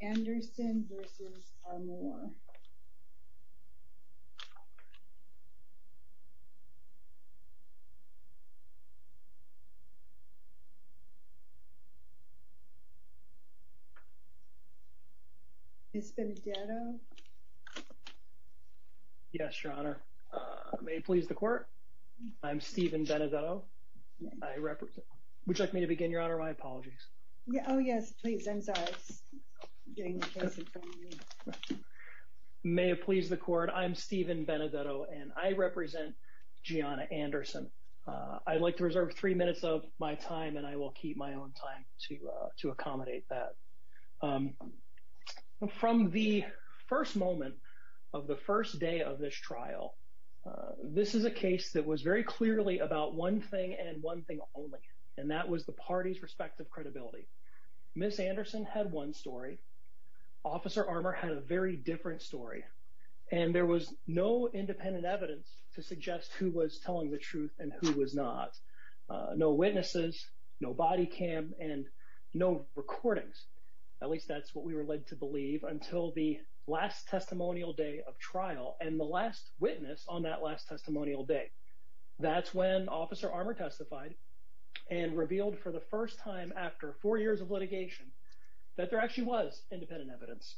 Anderson v. Armour Ms. Benedetto Yes, Your Honor. May it please the Court? I'm Stephen Benedetto. I represent... Would you like me to begin, Your Honor? My apologies. Oh, yes, please. I'm sorry. I'm getting the case in front of me. May it please the Court? I'm Stephen Benedetto, and I represent Gianna Anderson. I'd like to reserve three minutes of my time, and I will keep my own time to accommodate that. From the first moment of the first day of this trial, this is a case that was very clearly about one thing and one thing only, and that was the parties' respective credibility. Ms. Anderson had one story. Officer Armour had a very different story, and there was no independent evidence to suggest who was telling the truth and who was not. No witnesses, no body cam, and no recordings. At least that's what we were led to believe until the last testimonial day of trial and the last witness on that last testimonial day. That's when Officer Armour testified and revealed for the first time after four years of litigation that there actually was independent evidence.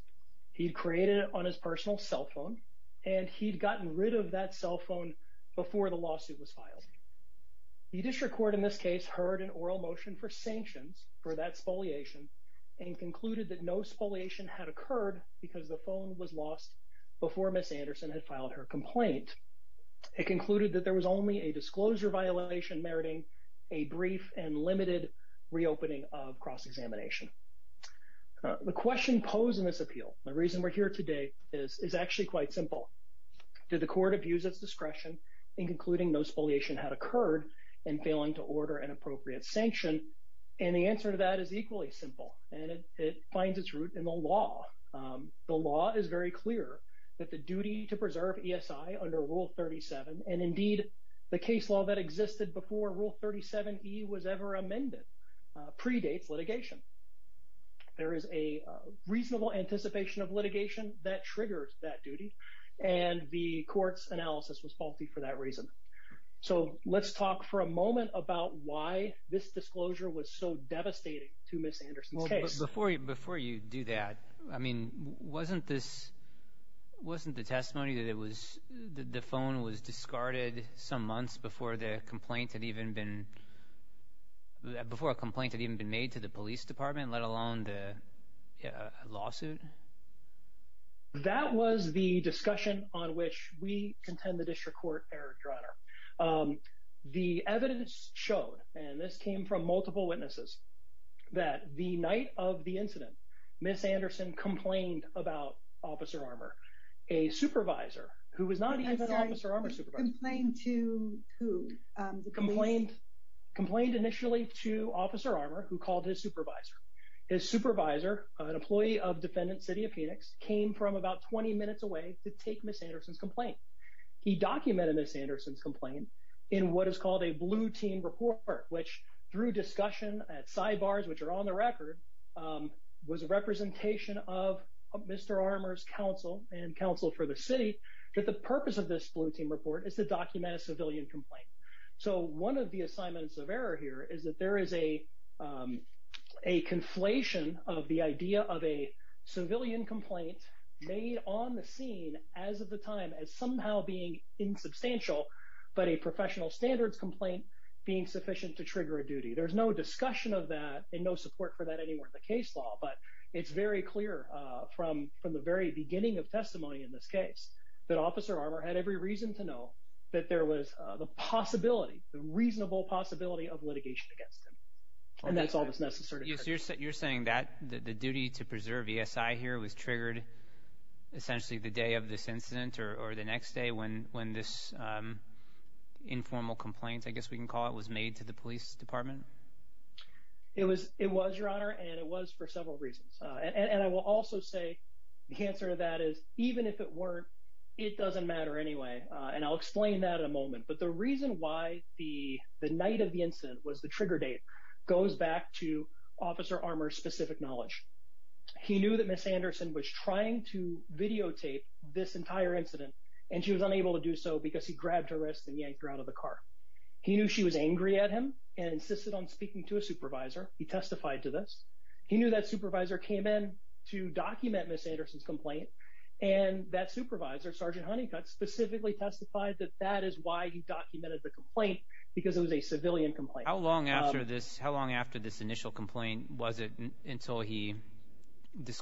He'd created it on his personal cell phone, and he'd gotten rid of that cell phone before the lawsuit was filed. The district court in this case heard an oral motion for sanctions for that spoliation and concluded that no spoliation had occurred because the phone was lost before Ms. Armour testified. They concluded that there was only a disclosure violation meriting a brief and limited reopening of cross-examination. The question posed in this appeal, the reason we're here today, is actually quite simple. Did the court abuse its discretion in concluding no spoliation had occurred and failing to order an appropriate sanction? And the answer to that is equally simple, and it finds its root in the law. The law is very similar to Rule 37, and indeed the case law that existed before Rule 37E was ever amended predates litigation. There is a reasonable anticipation of litigation that triggers that duty, and the court's analysis was faulty for that reason. So let's talk for a moment about why this disclosure was so devastating to Ms. Anderson's case. Before you do that, I mean, wasn't this wasn't the testimony that the phone was discarded some months before the complaint had even been made to the police department, let alone the lawsuit? That was the discussion on which we contend the district court erred, Your Honor. The evidence showed, and this came from multiple witnesses, that the night of the incident, Ms. Anderson complained about Officer Armour. A supervisor, who was not even an Officer Armour supervisor, complained initially to Officer Armour, who called his supervisor. His supervisor, an employee of Defendant City of Phoenix, came from about 20 minutes away to take Ms. Anderson's complaint. He documented Ms. Anderson's complaint in what is called a blue team report, which through discussion at sidebars, which are on the record, was a representation of Mr. Armour's counsel and counsel for the city, that the purpose of this blue team report is to document a civilian complaint. So one of the assignments of error here is that there is a conflation of the idea of a civilian complaint made on the scene as of the time as somehow being insubstantial, but a professional standards complaint being sufficient to trigger a duty. There's no discussion of that and no support for that anywhere in the case law, but it's very clear from the very beginning of testimony in this case that Officer Armour had every reason to know that there was the possibility, the reasonable possibility of litigation against him. And that's all that's necessary. You're saying that the duty to preserve ESI here was triggered essentially the day of this incident or the next day when this informal complaint, I guess we can call it, was made to the police department? It was, Your Honor, and it was for several reasons. And I will also say the answer to that is even if it weren't, it doesn't matter anyway. And I'll explain that in a moment. But the reason why the night of the incident was the trigger date goes back to Officer Armour's specific knowledge. He knew that Miss Anderson was trying to videotape this entire incident, and she was unable to do so because he grabbed her wrist and yanked her out of the car. He knew she was angry at him and insisted on speaking to a supervisor. He testified to this. He knew that supervisor came in to document Miss Anderson's complaint, and that supervisor, Sergeant Honeycutt, specifically testified that that is why he documented the complaint, because it was a civilian complaint. How long after this initial complaint was it until he did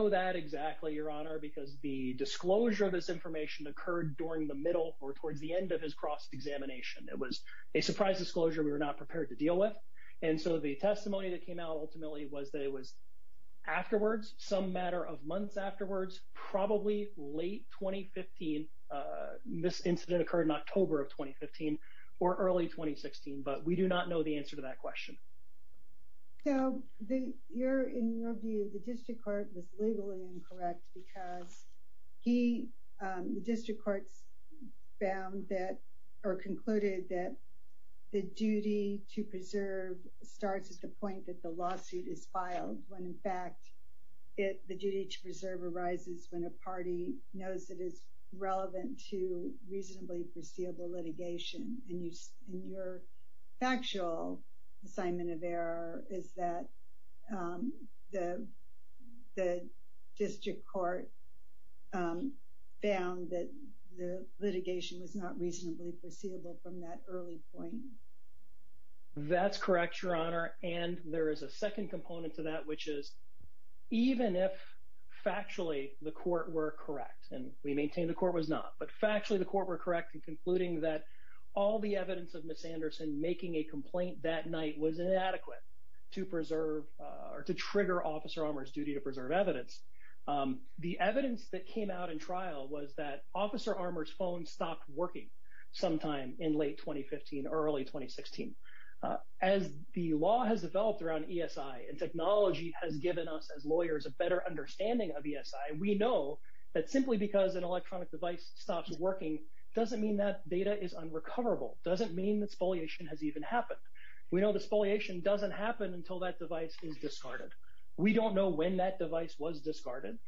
that, exactly, Your Honor? Because the disclosure of this information occurred during the middle or towards the end of his cross-examination. It was a surprise disclosure we were not prepared to deal with. And so the testimony that came out ultimately was that it was afterwards, some matter of months afterwards, probably late 2015. This incident occurred in October of 2015 or early 2016, but we do not know the answer to that question. So, in your view, the district court was legally incorrect because the district court concluded that the duty to preserve starts at the point that the lawsuit is filed, when in fact the duty to preserve arises when a party knows it is relevant to reasonably foreseeable litigation. In your factual assignment of error, is that the district court found that the litigation was not reasonably foreseeable from that early point? That's correct, Your Honor. And there is a second component to that, which is even if factually the court were correct, and we maintain the court was not, but factually the court were correct in concluding that all the evidence of Ms. Anderson making a complaint that night was inadequate to preserve or to trigger Officer Armour's duty to preserve evidence. The evidence that came out in trial was that Officer Armour's phone stopped working sometime in late 2015 or early 2016. As the law has developed around ESI and technology has given us as lawyers a better understanding of ESI, we know that simply because an electronic device stops working doesn't mean that data is unrecoverable, doesn't mean that spoliation has even happened. We know that spoliation doesn't happen until that device is discarded. We don't know when that device was discarded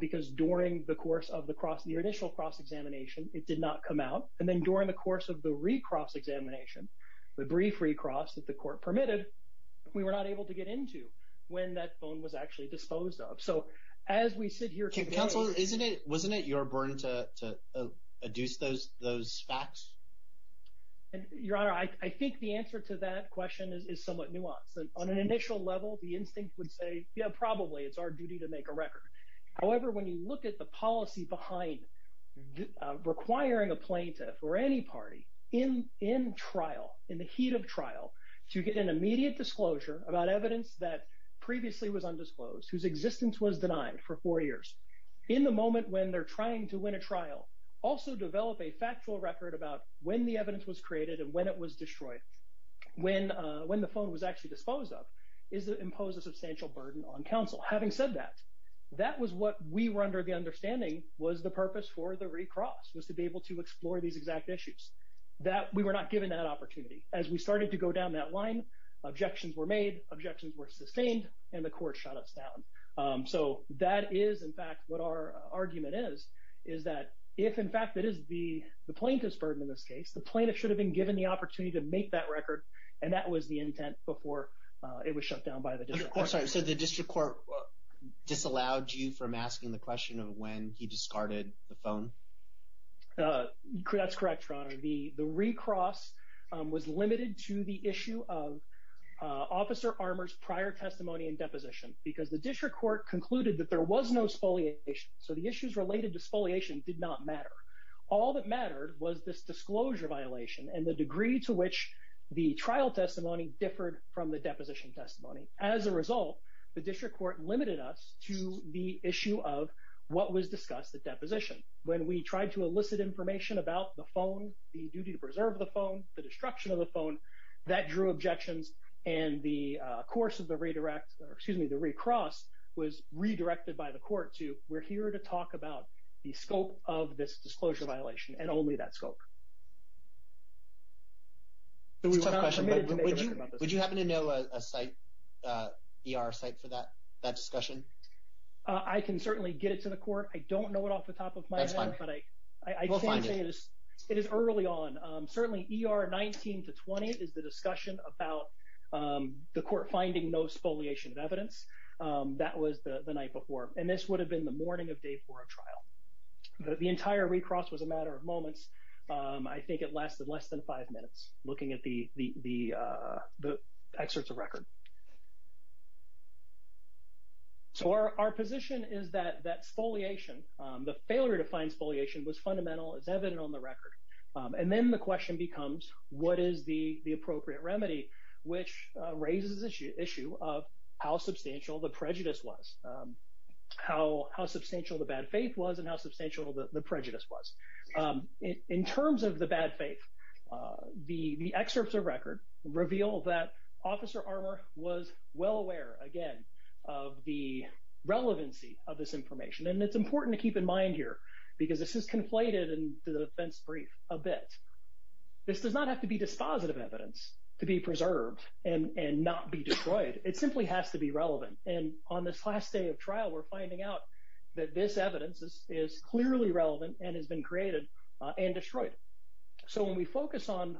because during the course of the initial cross-examination it did not come out, and then during the course of the re-cross-examination, the brief re-cross that the court permitted, we were not able to get into when that phone was actually disposed of. So as we sit here today... Wasn't it your burden to adduce those facts? Your Honor, I think the answer to that question is somewhat nuanced. On an initial level, the instinct would say, yeah, probably it's our duty to make a record. However, when you look at the policy behind requiring a plaintiff or any party in trial, in the heat of trial, to get an immediate disclosure about whose existence was denied for four years, in the moment when they're trying to win a trial, also develop a factual record about when the evidence was created and when it was destroyed, when the phone was actually disposed of, is to impose a substantial burden on counsel. Having said that, that was what we were under the understanding was the purpose for the re-cross, was to be able to explore these exact issues. We were not given that opportunity. As we started to go down that line, objections were made, objections were sustained, and the court shut us down. So that is, in fact, what our argument is, is that if, in fact, it is the plaintiff's burden in this case, the plaintiff should have been given the opportunity to make that record, and that was the intent before it was shut down by the district court. I'm sorry, so the district court disallowed you from asking the question of when he discarded the phone? That's correct, Your Honor. The re-cross was limited to the issue of Officer Armour's prior testimony and deposition, because the district court concluded that there was no spoliation, so the issues related to spoliation did not matter. All that mattered was this disclosure violation and the degree to which the trial testimony differed from the deposition testimony. As a result, the district court limited us to the issue of what was discussed at deposition. When we tried to elicit information about the phone, the duty to preserve the phone, the destruction of the phone, that drew objections and the course of the redirect, or excuse me, the re-cross was redirected by the court to we're here to talk about the scope of this disclosure violation and only that scope. It's a tough question, but would you happen to know a site, ER site for that discussion? I can certainly get it to the court. I don't know it off the top of my head, but I can say it is early on. Certainly ER 19 to 20 is the discussion about the court finding no spoliation of evidence. That was the night before and this would have been the morning of day for a trial. The entire re-cross was a matter of moments. I think it lasted less than five minutes looking at the excerpts of record. So our position is that spoliation, the failure to find spoliation was fundamental. It's evident on the record. And then the question becomes what is the appropriate remedy, which raises the issue of how substantial the prejudice was, how substantial the bad faith was and how substantial the prejudice was. In terms of the bad faith, the excerpts of record reveal that Officer Armour was well aware, again, of the evidence. It's important to keep in mind here because this is conflated in the defense brief a bit. This does not have to be dispositive evidence to be preserved and not be destroyed. It simply has to be relevant. And on this last day of trial, we're finding out that this evidence is clearly relevant and has been created and destroyed. So when we focus on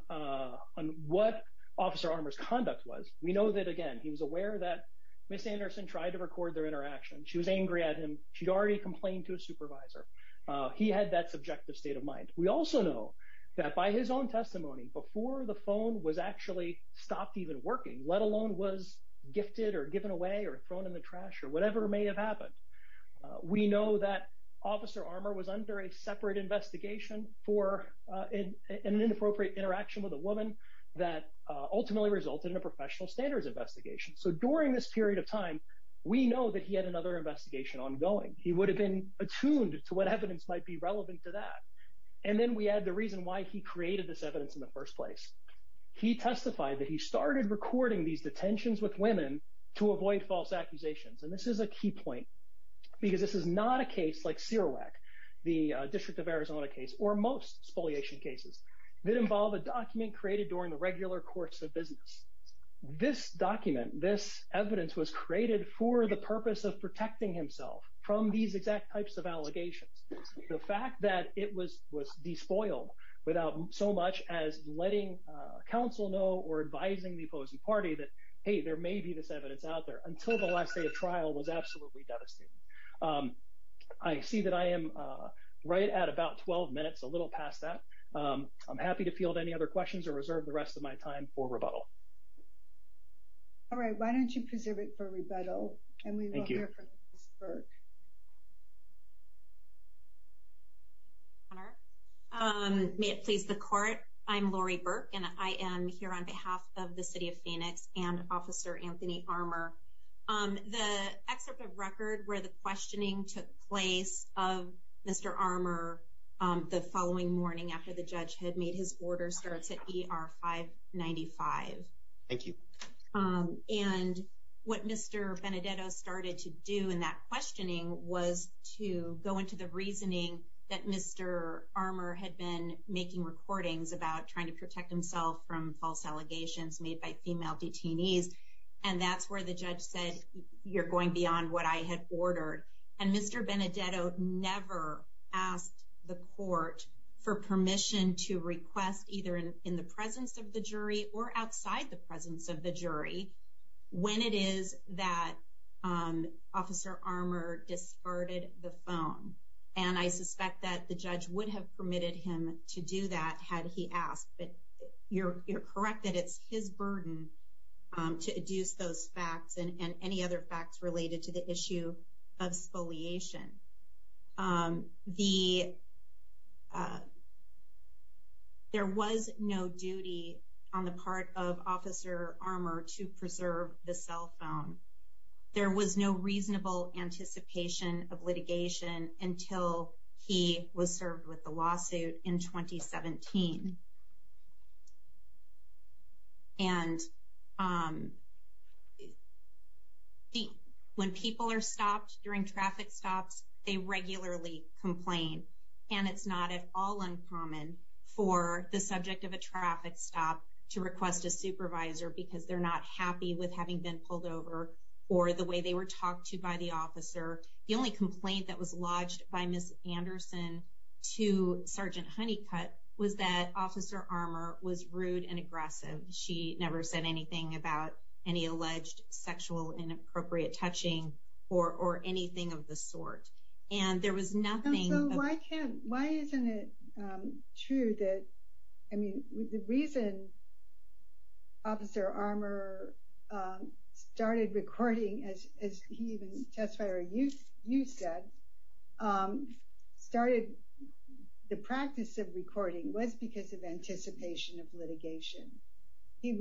what Officer Armour's conduct was, we know that, again, he was aware that Miss Anderson tried to record their interaction. She was angry at him. She'd already complained to a supervisor. He had that subjective state of mind. We also know that by his own testimony, before the phone was actually stopped even working, let alone was gifted or given away or thrown in the trash or whatever may have happened, we know that Officer Armour was under a separate investigation for an inappropriate interaction with a woman that ultimately resulted in a professional standards investigation. So during this period of time, we know that he had another investigation ongoing. He would have been attuned to what evidence might be relevant to that. And then we add the reason why he created this evidence in the first place. He testified that he started recording these detentions with women to avoid false accusations. And this is a key point because this is not a case like Serowac, the District of Arizona case, or most spoliation cases that involve a document created during the regular course of business. This document, this evidence, was created for the purpose of protecting himself from these exact types of allegations. The fact that it was despoiled without so much as letting counsel know or advising the opposing party that, hey, there may be this evidence out there until the last day of trial was absolutely devastating. I see that I am right at about 12 minutes, a little past that. I'm happy to field any other questions or reserve the rest of my time for rebuttal. All right. Why don't you preserve it for rebuttal? Thank you. May it please the Court, I'm Lori Burke and I am here on behalf of the City of Phoenix and Officer Anthony Armour. The excerpt of record where the questioning took place of the following morning after the judge had made his order starts at ER 595. Thank you. And what Mr. Benedetto started to do in that questioning was to go into the reasoning that Mr. Armour had been making recordings about trying to protect himself from false allegations made by female detainees. And that's where the judge said, you're going beyond what I had ordered. And Mr. Benedetto never asked the court for permission to request either in the presence of the jury or outside the presence of the jury when it is that Officer Armour discarded the phone. And I suspect that the judge would have permitted him to do that had he asked. But you're correct that it's his burden to adduce those facts and any other facts related to the issue of spoliation. The there was no duty on the part of Officer Armour to preserve the cell phone. There was no reasonable anticipation of litigation until he was served with the lawsuit in 2017. And when people are stopped during traffic stops, they regularly complain. And it's not at all uncommon for the subject of a traffic stop to request a supervisor because they're not happy with having been pulled over or the way they were talked to by the officer. The only complaint that was lodged by Ms. Anderson to Sergeant Honeycutt was that Officer Armour had not done anything about any alleged sexual inappropriate touching or anything of the sort. And there was nothing Why isn't it true that, I mean, the reason Officer Armour started recording as he even testified or you said started the practice of recording was because of anticipation of litigation. It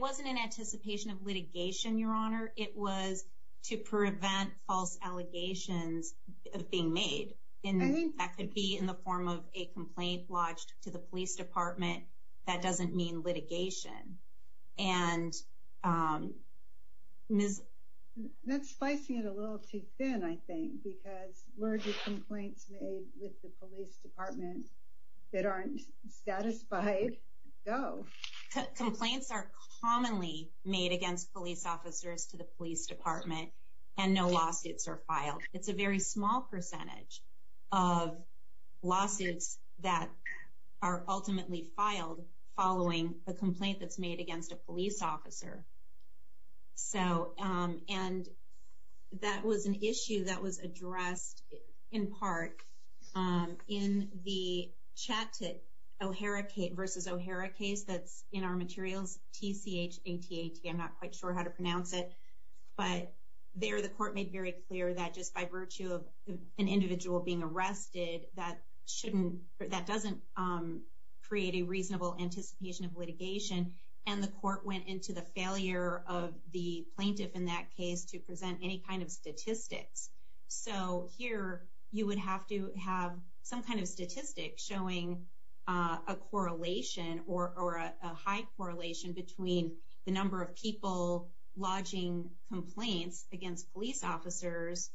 wasn't an anticipation of litigation, Your Honor. It was to prevent false allegations of being made. That could be in the form of a complaint lodged to the police department. That doesn't mean litigation. And Ms. That's slicing it a little too thin, I think, because where do complaints made with the police department that aren't satisfied go? Complaints are commonly made against police officers to the police department and no lawsuits are filed. It's a very small percentage of lawsuits that are ultimately filed following a complaint that's made against a police officer. So, and that was an issue that was addressed in part in the Chattah-O'Hara versus O'Hara case that's in our materials, T-C-H-A-T-A-T I'm not quite sure how to pronounce it, but there the court made very clear that just by virtue of an individual being arrested, that doesn't create a reasonable anticipation of litigation. And the court went into the failure of the plaintiff in that case to present any kind of statistics. So here you would have to have some kind of statistic showing a correlation or a high correlation between the number of people lodging complaints against police officers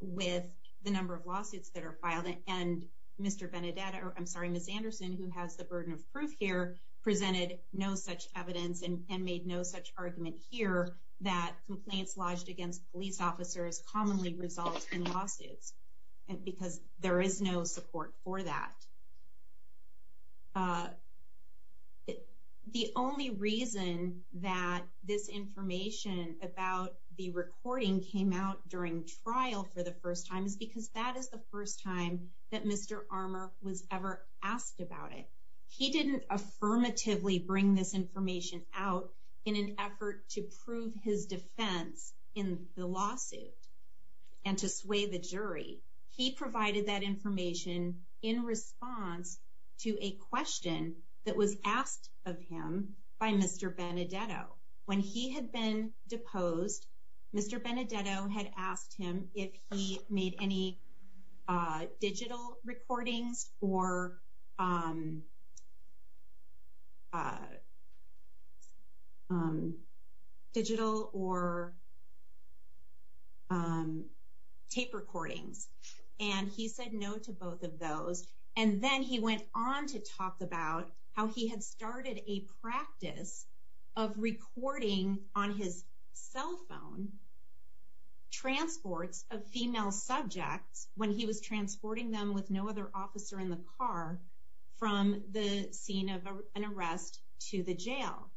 with the number of lawsuits that are filed. And Mr. Benedetta, I'm sorry, Ms. Anderson, who has the burden of proof here, presented no such evidence and made no such argument here that complaints lodged against police officers commonly result in lawsuits. Because there is no support for that. The only reason that this information about the recording came out during trial for the first time is because that is the first time that Mr. Armour was ever asked about it. He didn't affirmatively bring this information out in an effort to prove his defense in the lawsuit and to sway the jury. He provided that information in response to a question that was asked of him by Mr. Benedetta. When he had been deposed, Mr. Benedetta had asked him if he made any digital recordings or digital or tape recordings. And he said no to both of those. And then he went on to talk about how he had started a practice of recording on his cell phone transports of female subjects when he was transporting them with no other officer in the car from the scene of an arrest to the jail.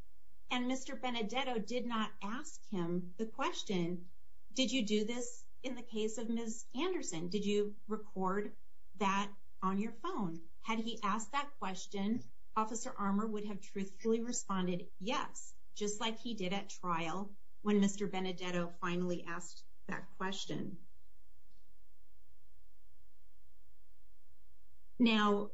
And Mr. Benedetta did not ask him the question, did you do this in the case of Ms. Anderson? Did you record that on your phone? Had he asked that question, Officer Armour would have truthfully responded yes, just like he did at trial when Mr. Benedetta finally asked that question. Now,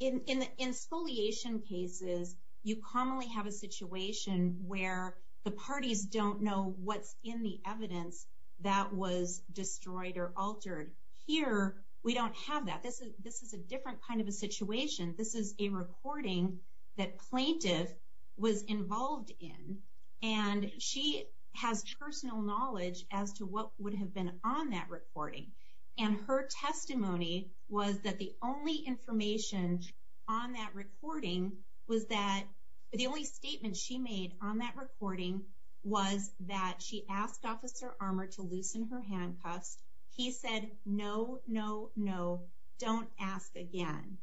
in spoliation cases, you commonly have a situation where the parties don't know what's in the evidence that was destroyed or altered. Here, we don't have that. This is a different kind of a situation. This is a recording that plaintiff was involved in and she has personal knowledge as to what would have been on that recording. And her testimony was that the only information on that recording was that, the only statement she made on that recording was that she asked Officer Armour to loosen her handcuffs. He said no, no, no, don't ask again.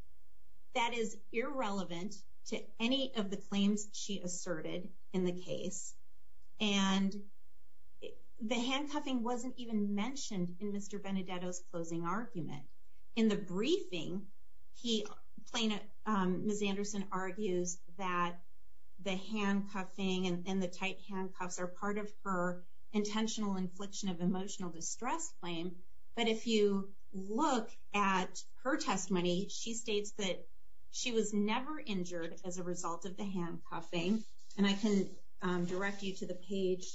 That is irrelevant to any of the claims she asserted in the case. And the handcuffing wasn't even mentioned in Mr. Benedetta's closing argument. In the briefing, Ms. Anderson argues that the handcuffing and the tight handcuffs are part of her intentional infliction of emotional distress claim. But if you look at her testimony, she states that she was never injured as a result of the handcuffing. And I can direct you to the page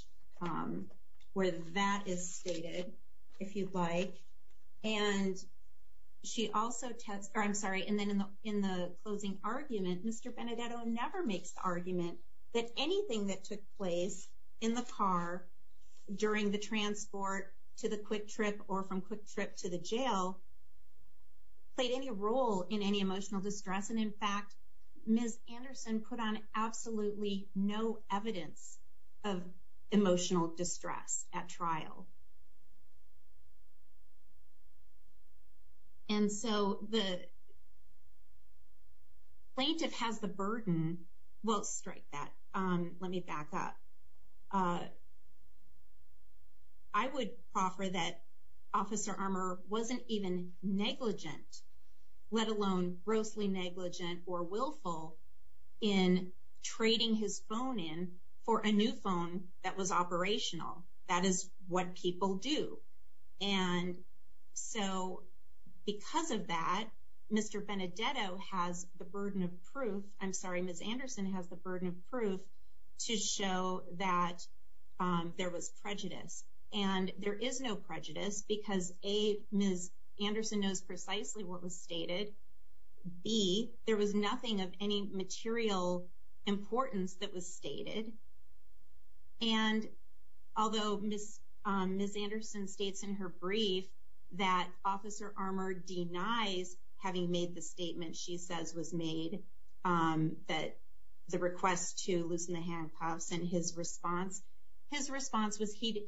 where that is stated, if you'd like. And she also, I'm sorry, in the closing argument, Mr. Benedetta never makes the argument that anything that took place in the car during the transport to the quick trip or from quick trip to the jail played any role in any emotional distress. And in fact, Ms. Anderson put on absolutely no evidence of emotional distress at trial. And so the plaintiff has the burden, well strike that, let me back up. I would offer that Officer Armour wasn't even negligent, let alone grossly negligent or willful in trading his phone in for a new phone that was operational. That is what people do. And so because of that, Mr. Benedetta has the burden of proof, I'm sorry, Ms. Anderson has the burden of proof to show that there was prejudice. And there is no prejudice because A, Ms. Anderson knows precisely what was stated. B, there was nothing of any material importance that was stated. And although Ms. Anderson states in her brief that Officer Armour denies having made the statement she says was made, that the request to loosen the handcuffs and his response, his response was he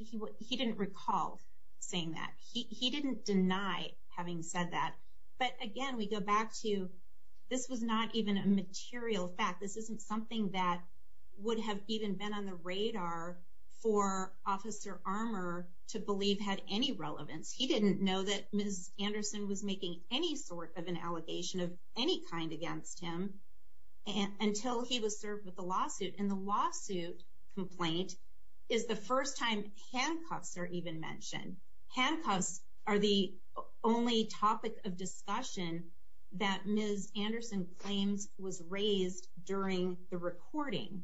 didn't recall saying that. He didn't deny having said that. But again, we go back to this was not even a material fact. This isn't something that would have even been on the radar for Officer Armour to believe had any relevance. He didn't know that Ms. Anderson was making any sort of an allegation of any kind against him until he was served with the lawsuit. And the lawsuit complaint is the first time handcuffs are even mentioned. Handcuffs are the only topic of discussion that Ms. Anderson claims was raised during the recording.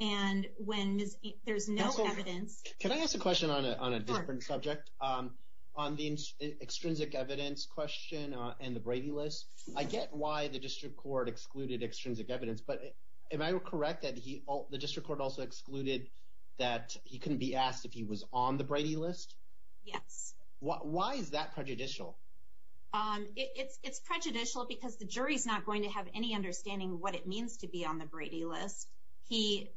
And when there's no evidence... Can I ask a question on a different subject? On the extrinsic evidence question and the Brady List, I get why the District Court excluded extrinsic evidence, but am I correct that the District Court also excluded that he couldn't be asked if he was on the Brady List? Yes. Why is that prejudicial? It's prejudicial because the jury's not going to have any understanding of what it means to be on the Brady List. The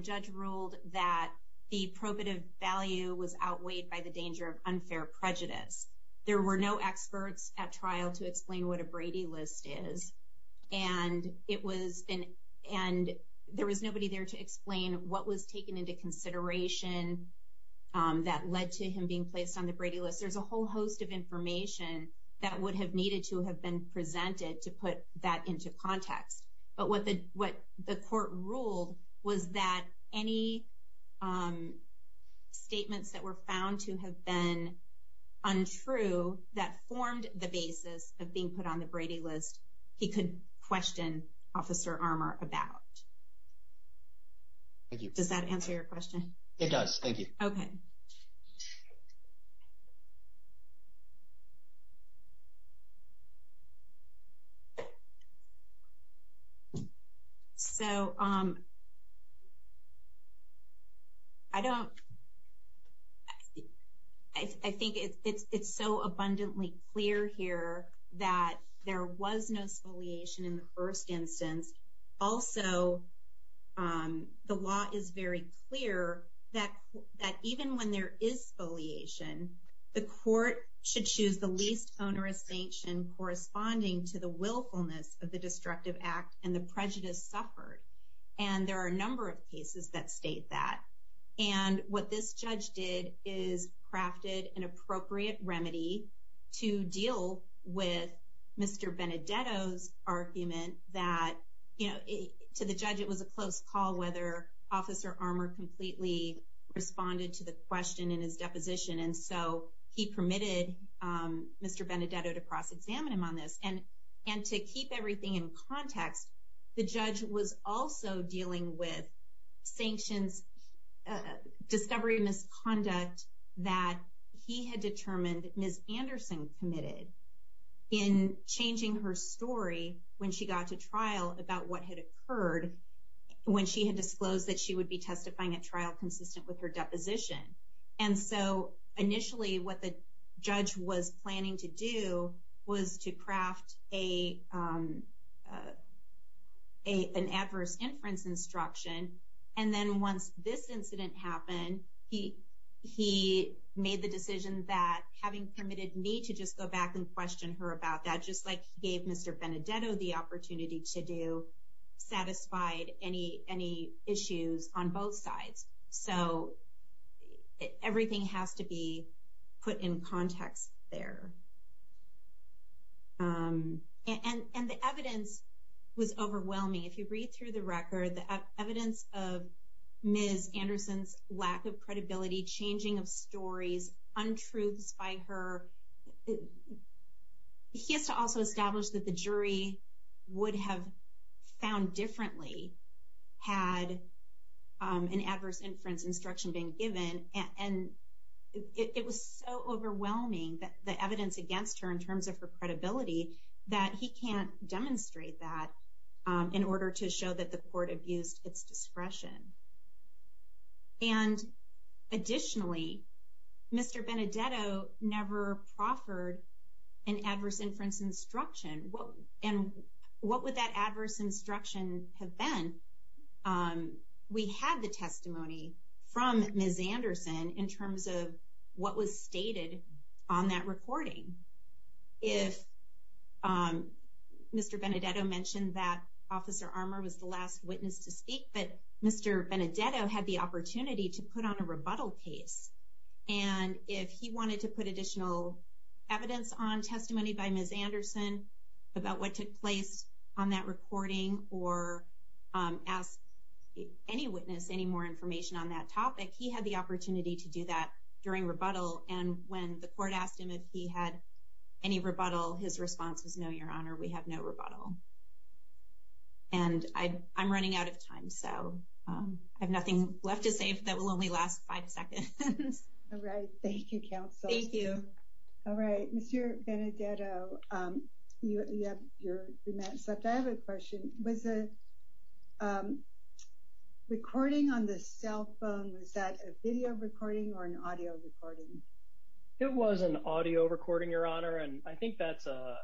judge ruled that the probative value was outweighed by the danger of unfair prejudice. There were no experts at trial to explain what a Brady List is. And it was... There was nobody there to explain what was taken into consideration that led to him being placed on the Brady List. There's a whole host of information that would have needed to have been presented to put that into context. But what the court ruled was that any statements that were found to have been untrue, that formed the basis of being put on the Brady List, he could question Officer Armour about. Thank you. Does that answer your question? It does. Thank you. Okay. So... I don't... I think it's so abundantly clear here that there was no spoliation in the first instance. Also, the law is very clear that even when there is spoliation, the court should choose the least onerous sanction corresponding to the willfulness of the destructive act and the willfulness of the abusive act. And there are a number of cases that state that. And what this judge did is crafted an appropriate remedy to deal with Mr. Benedetto's argument that, you know, to the judge it was a close call whether Officer Armour completely responded to the question in his deposition. And so he permitted Mr. Benedetto to cross-examine him on this. And to keep everything in context, the judge was also dealing with sanctions, discovery of misconduct that he had determined Ms. Anderson committed in changing her story when she got to trial about what had occurred when she had disclosed that she would be testifying at trial consistent with her deposition. And so initially what the judge was planning to do was to craft an adverse inference instruction. And then once this incident happened, he made the decision that having permitted me to just go back and question her about that, just like he gave Mr. Benedetto the opportunity to do, satisfied any issues on both sides. So everything has to be put in context there. And the evidence was overwhelming. If you read through the record, the evidence of Ms. Anderson's lack of credibility, changing of stories, untruths by her, he has to also establish that the jury would have found differently had an adverse inference instruction being given. And it was so overwhelming, the evidence against her in terms of her credibility, that he can't demonstrate that in order to show that the court abused its discretion. And additionally, Mr. Benedetto never proffered an adverse inference instruction. And what would that adverse instruction have been? We had the testimony from Ms. Anderson in terms of what was stated on that recording. If Mr. Benedetto mentioned that Officer Armour was the last witness to speak, but Mr. Benedetto had the opportunity to put on a rebuttal case. And if he wanted to put additional evidence on testimony by Ms. Anderson about what took place on that recording, or ask any witness any more information on that topic, he had the opportunity to do that during rebuttal. And when the court asked him if he had any rebuttal, his response was, no, Your Honor, we have no rebuttal. And I'm running out of time, so I have nothing left to say that will only last five seconds. All right. Thank you, Counsel. All right. Mr. Benedetto, you have your remarks left. I have a question. Was the recording on the cell phone, was that a video recording or an audio recording? It was an audio recording, Your Honor, and I think that's a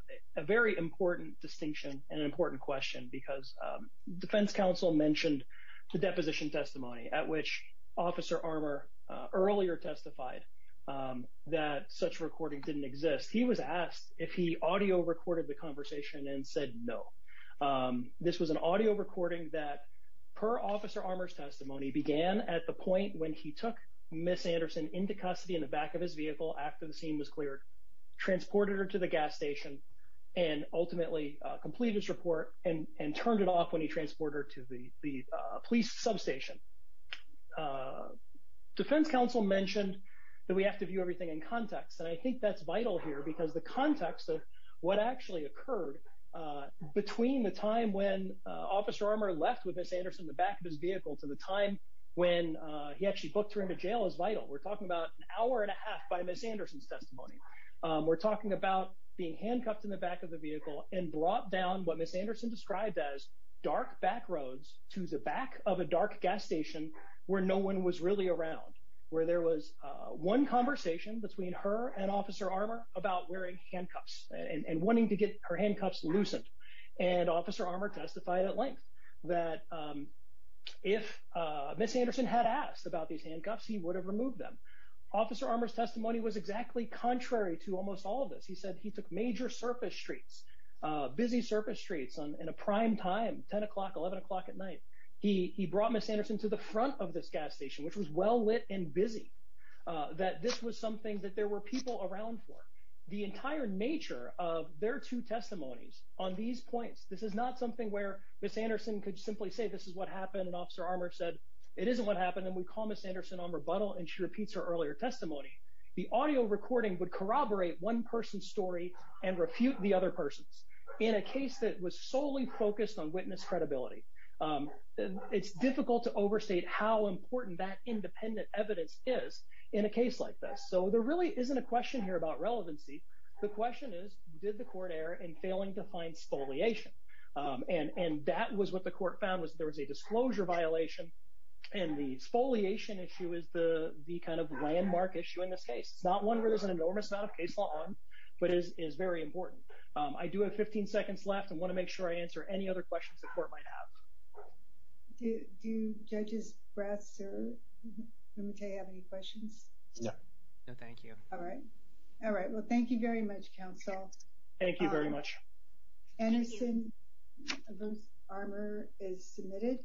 very important distinction and an important question because defense counsel mentioned the deposition testimony at which Officer Armour earlier testified that such recording didn't exist. He was asked if he audio recorded the conversation and said no. This was an audio recording that, per Officer Armour's testimony, began at the point when he took Ms. Anderson into custody in the back of his vehicle after the scene was cleared, transported her to the gas station, and ultimately completed his report and turned it off when he transported her to the police substation. Defense counsel mentioned that we have to view everything in context, and I think that's vital here because the context of what actually occurred between the time when Officer Armour left with Ms. Anderson in the back of his vehicle to the time when he actually booked her into jail is vital. We're talking about an hour and a half by Ms. Anderson's testimony. We're talking about being handcuffed in the back of the vehicle and from the dark back roads to the back of a dark gas station where no one was really around, where there was one conversation between her and Officer Armour about wearing handcuffs and wanting to get her handcuffs loosened, and Officer Armour testified at length that if Ms. Anderson had asked about these handcuffs, he would have removed them. Officer Armour's testimony was exactly contrary to almost all of this. He said he took major surface streets, busy surface streets in a prime time, 10 o'clock, 11 o'clock at night. He brought Ms. Anderson to the front of this gas station, which was well lit and busy, that this was something that there were people around for. The entire nature of their two testimonies on these points, this is not something where Ms. Anderson could simply say this is what happened and Officer Armour said it isn't what happened and we call Ms. Anderson on rebuttal and she repeats her earlier testimony. The audio recording would corroborate one person's story and refute the other person's in a case that was solely focused on witness credibility. It's difficult to overstate how important that independent evidence is in a case like this. So there really isn't a question here about relevancy. The question is, did the court err in failing to find spoliation? And that was what the court found was there was a disclosure violation and the spoliation issue is the kind of I do have 15 seconds left. I want to make sure I answer any other questions the court might have. Do Judges Brass or Lumete have any questions? No, thank you. Thank you very much, Counsel. Anderson vs. Armour is submitted.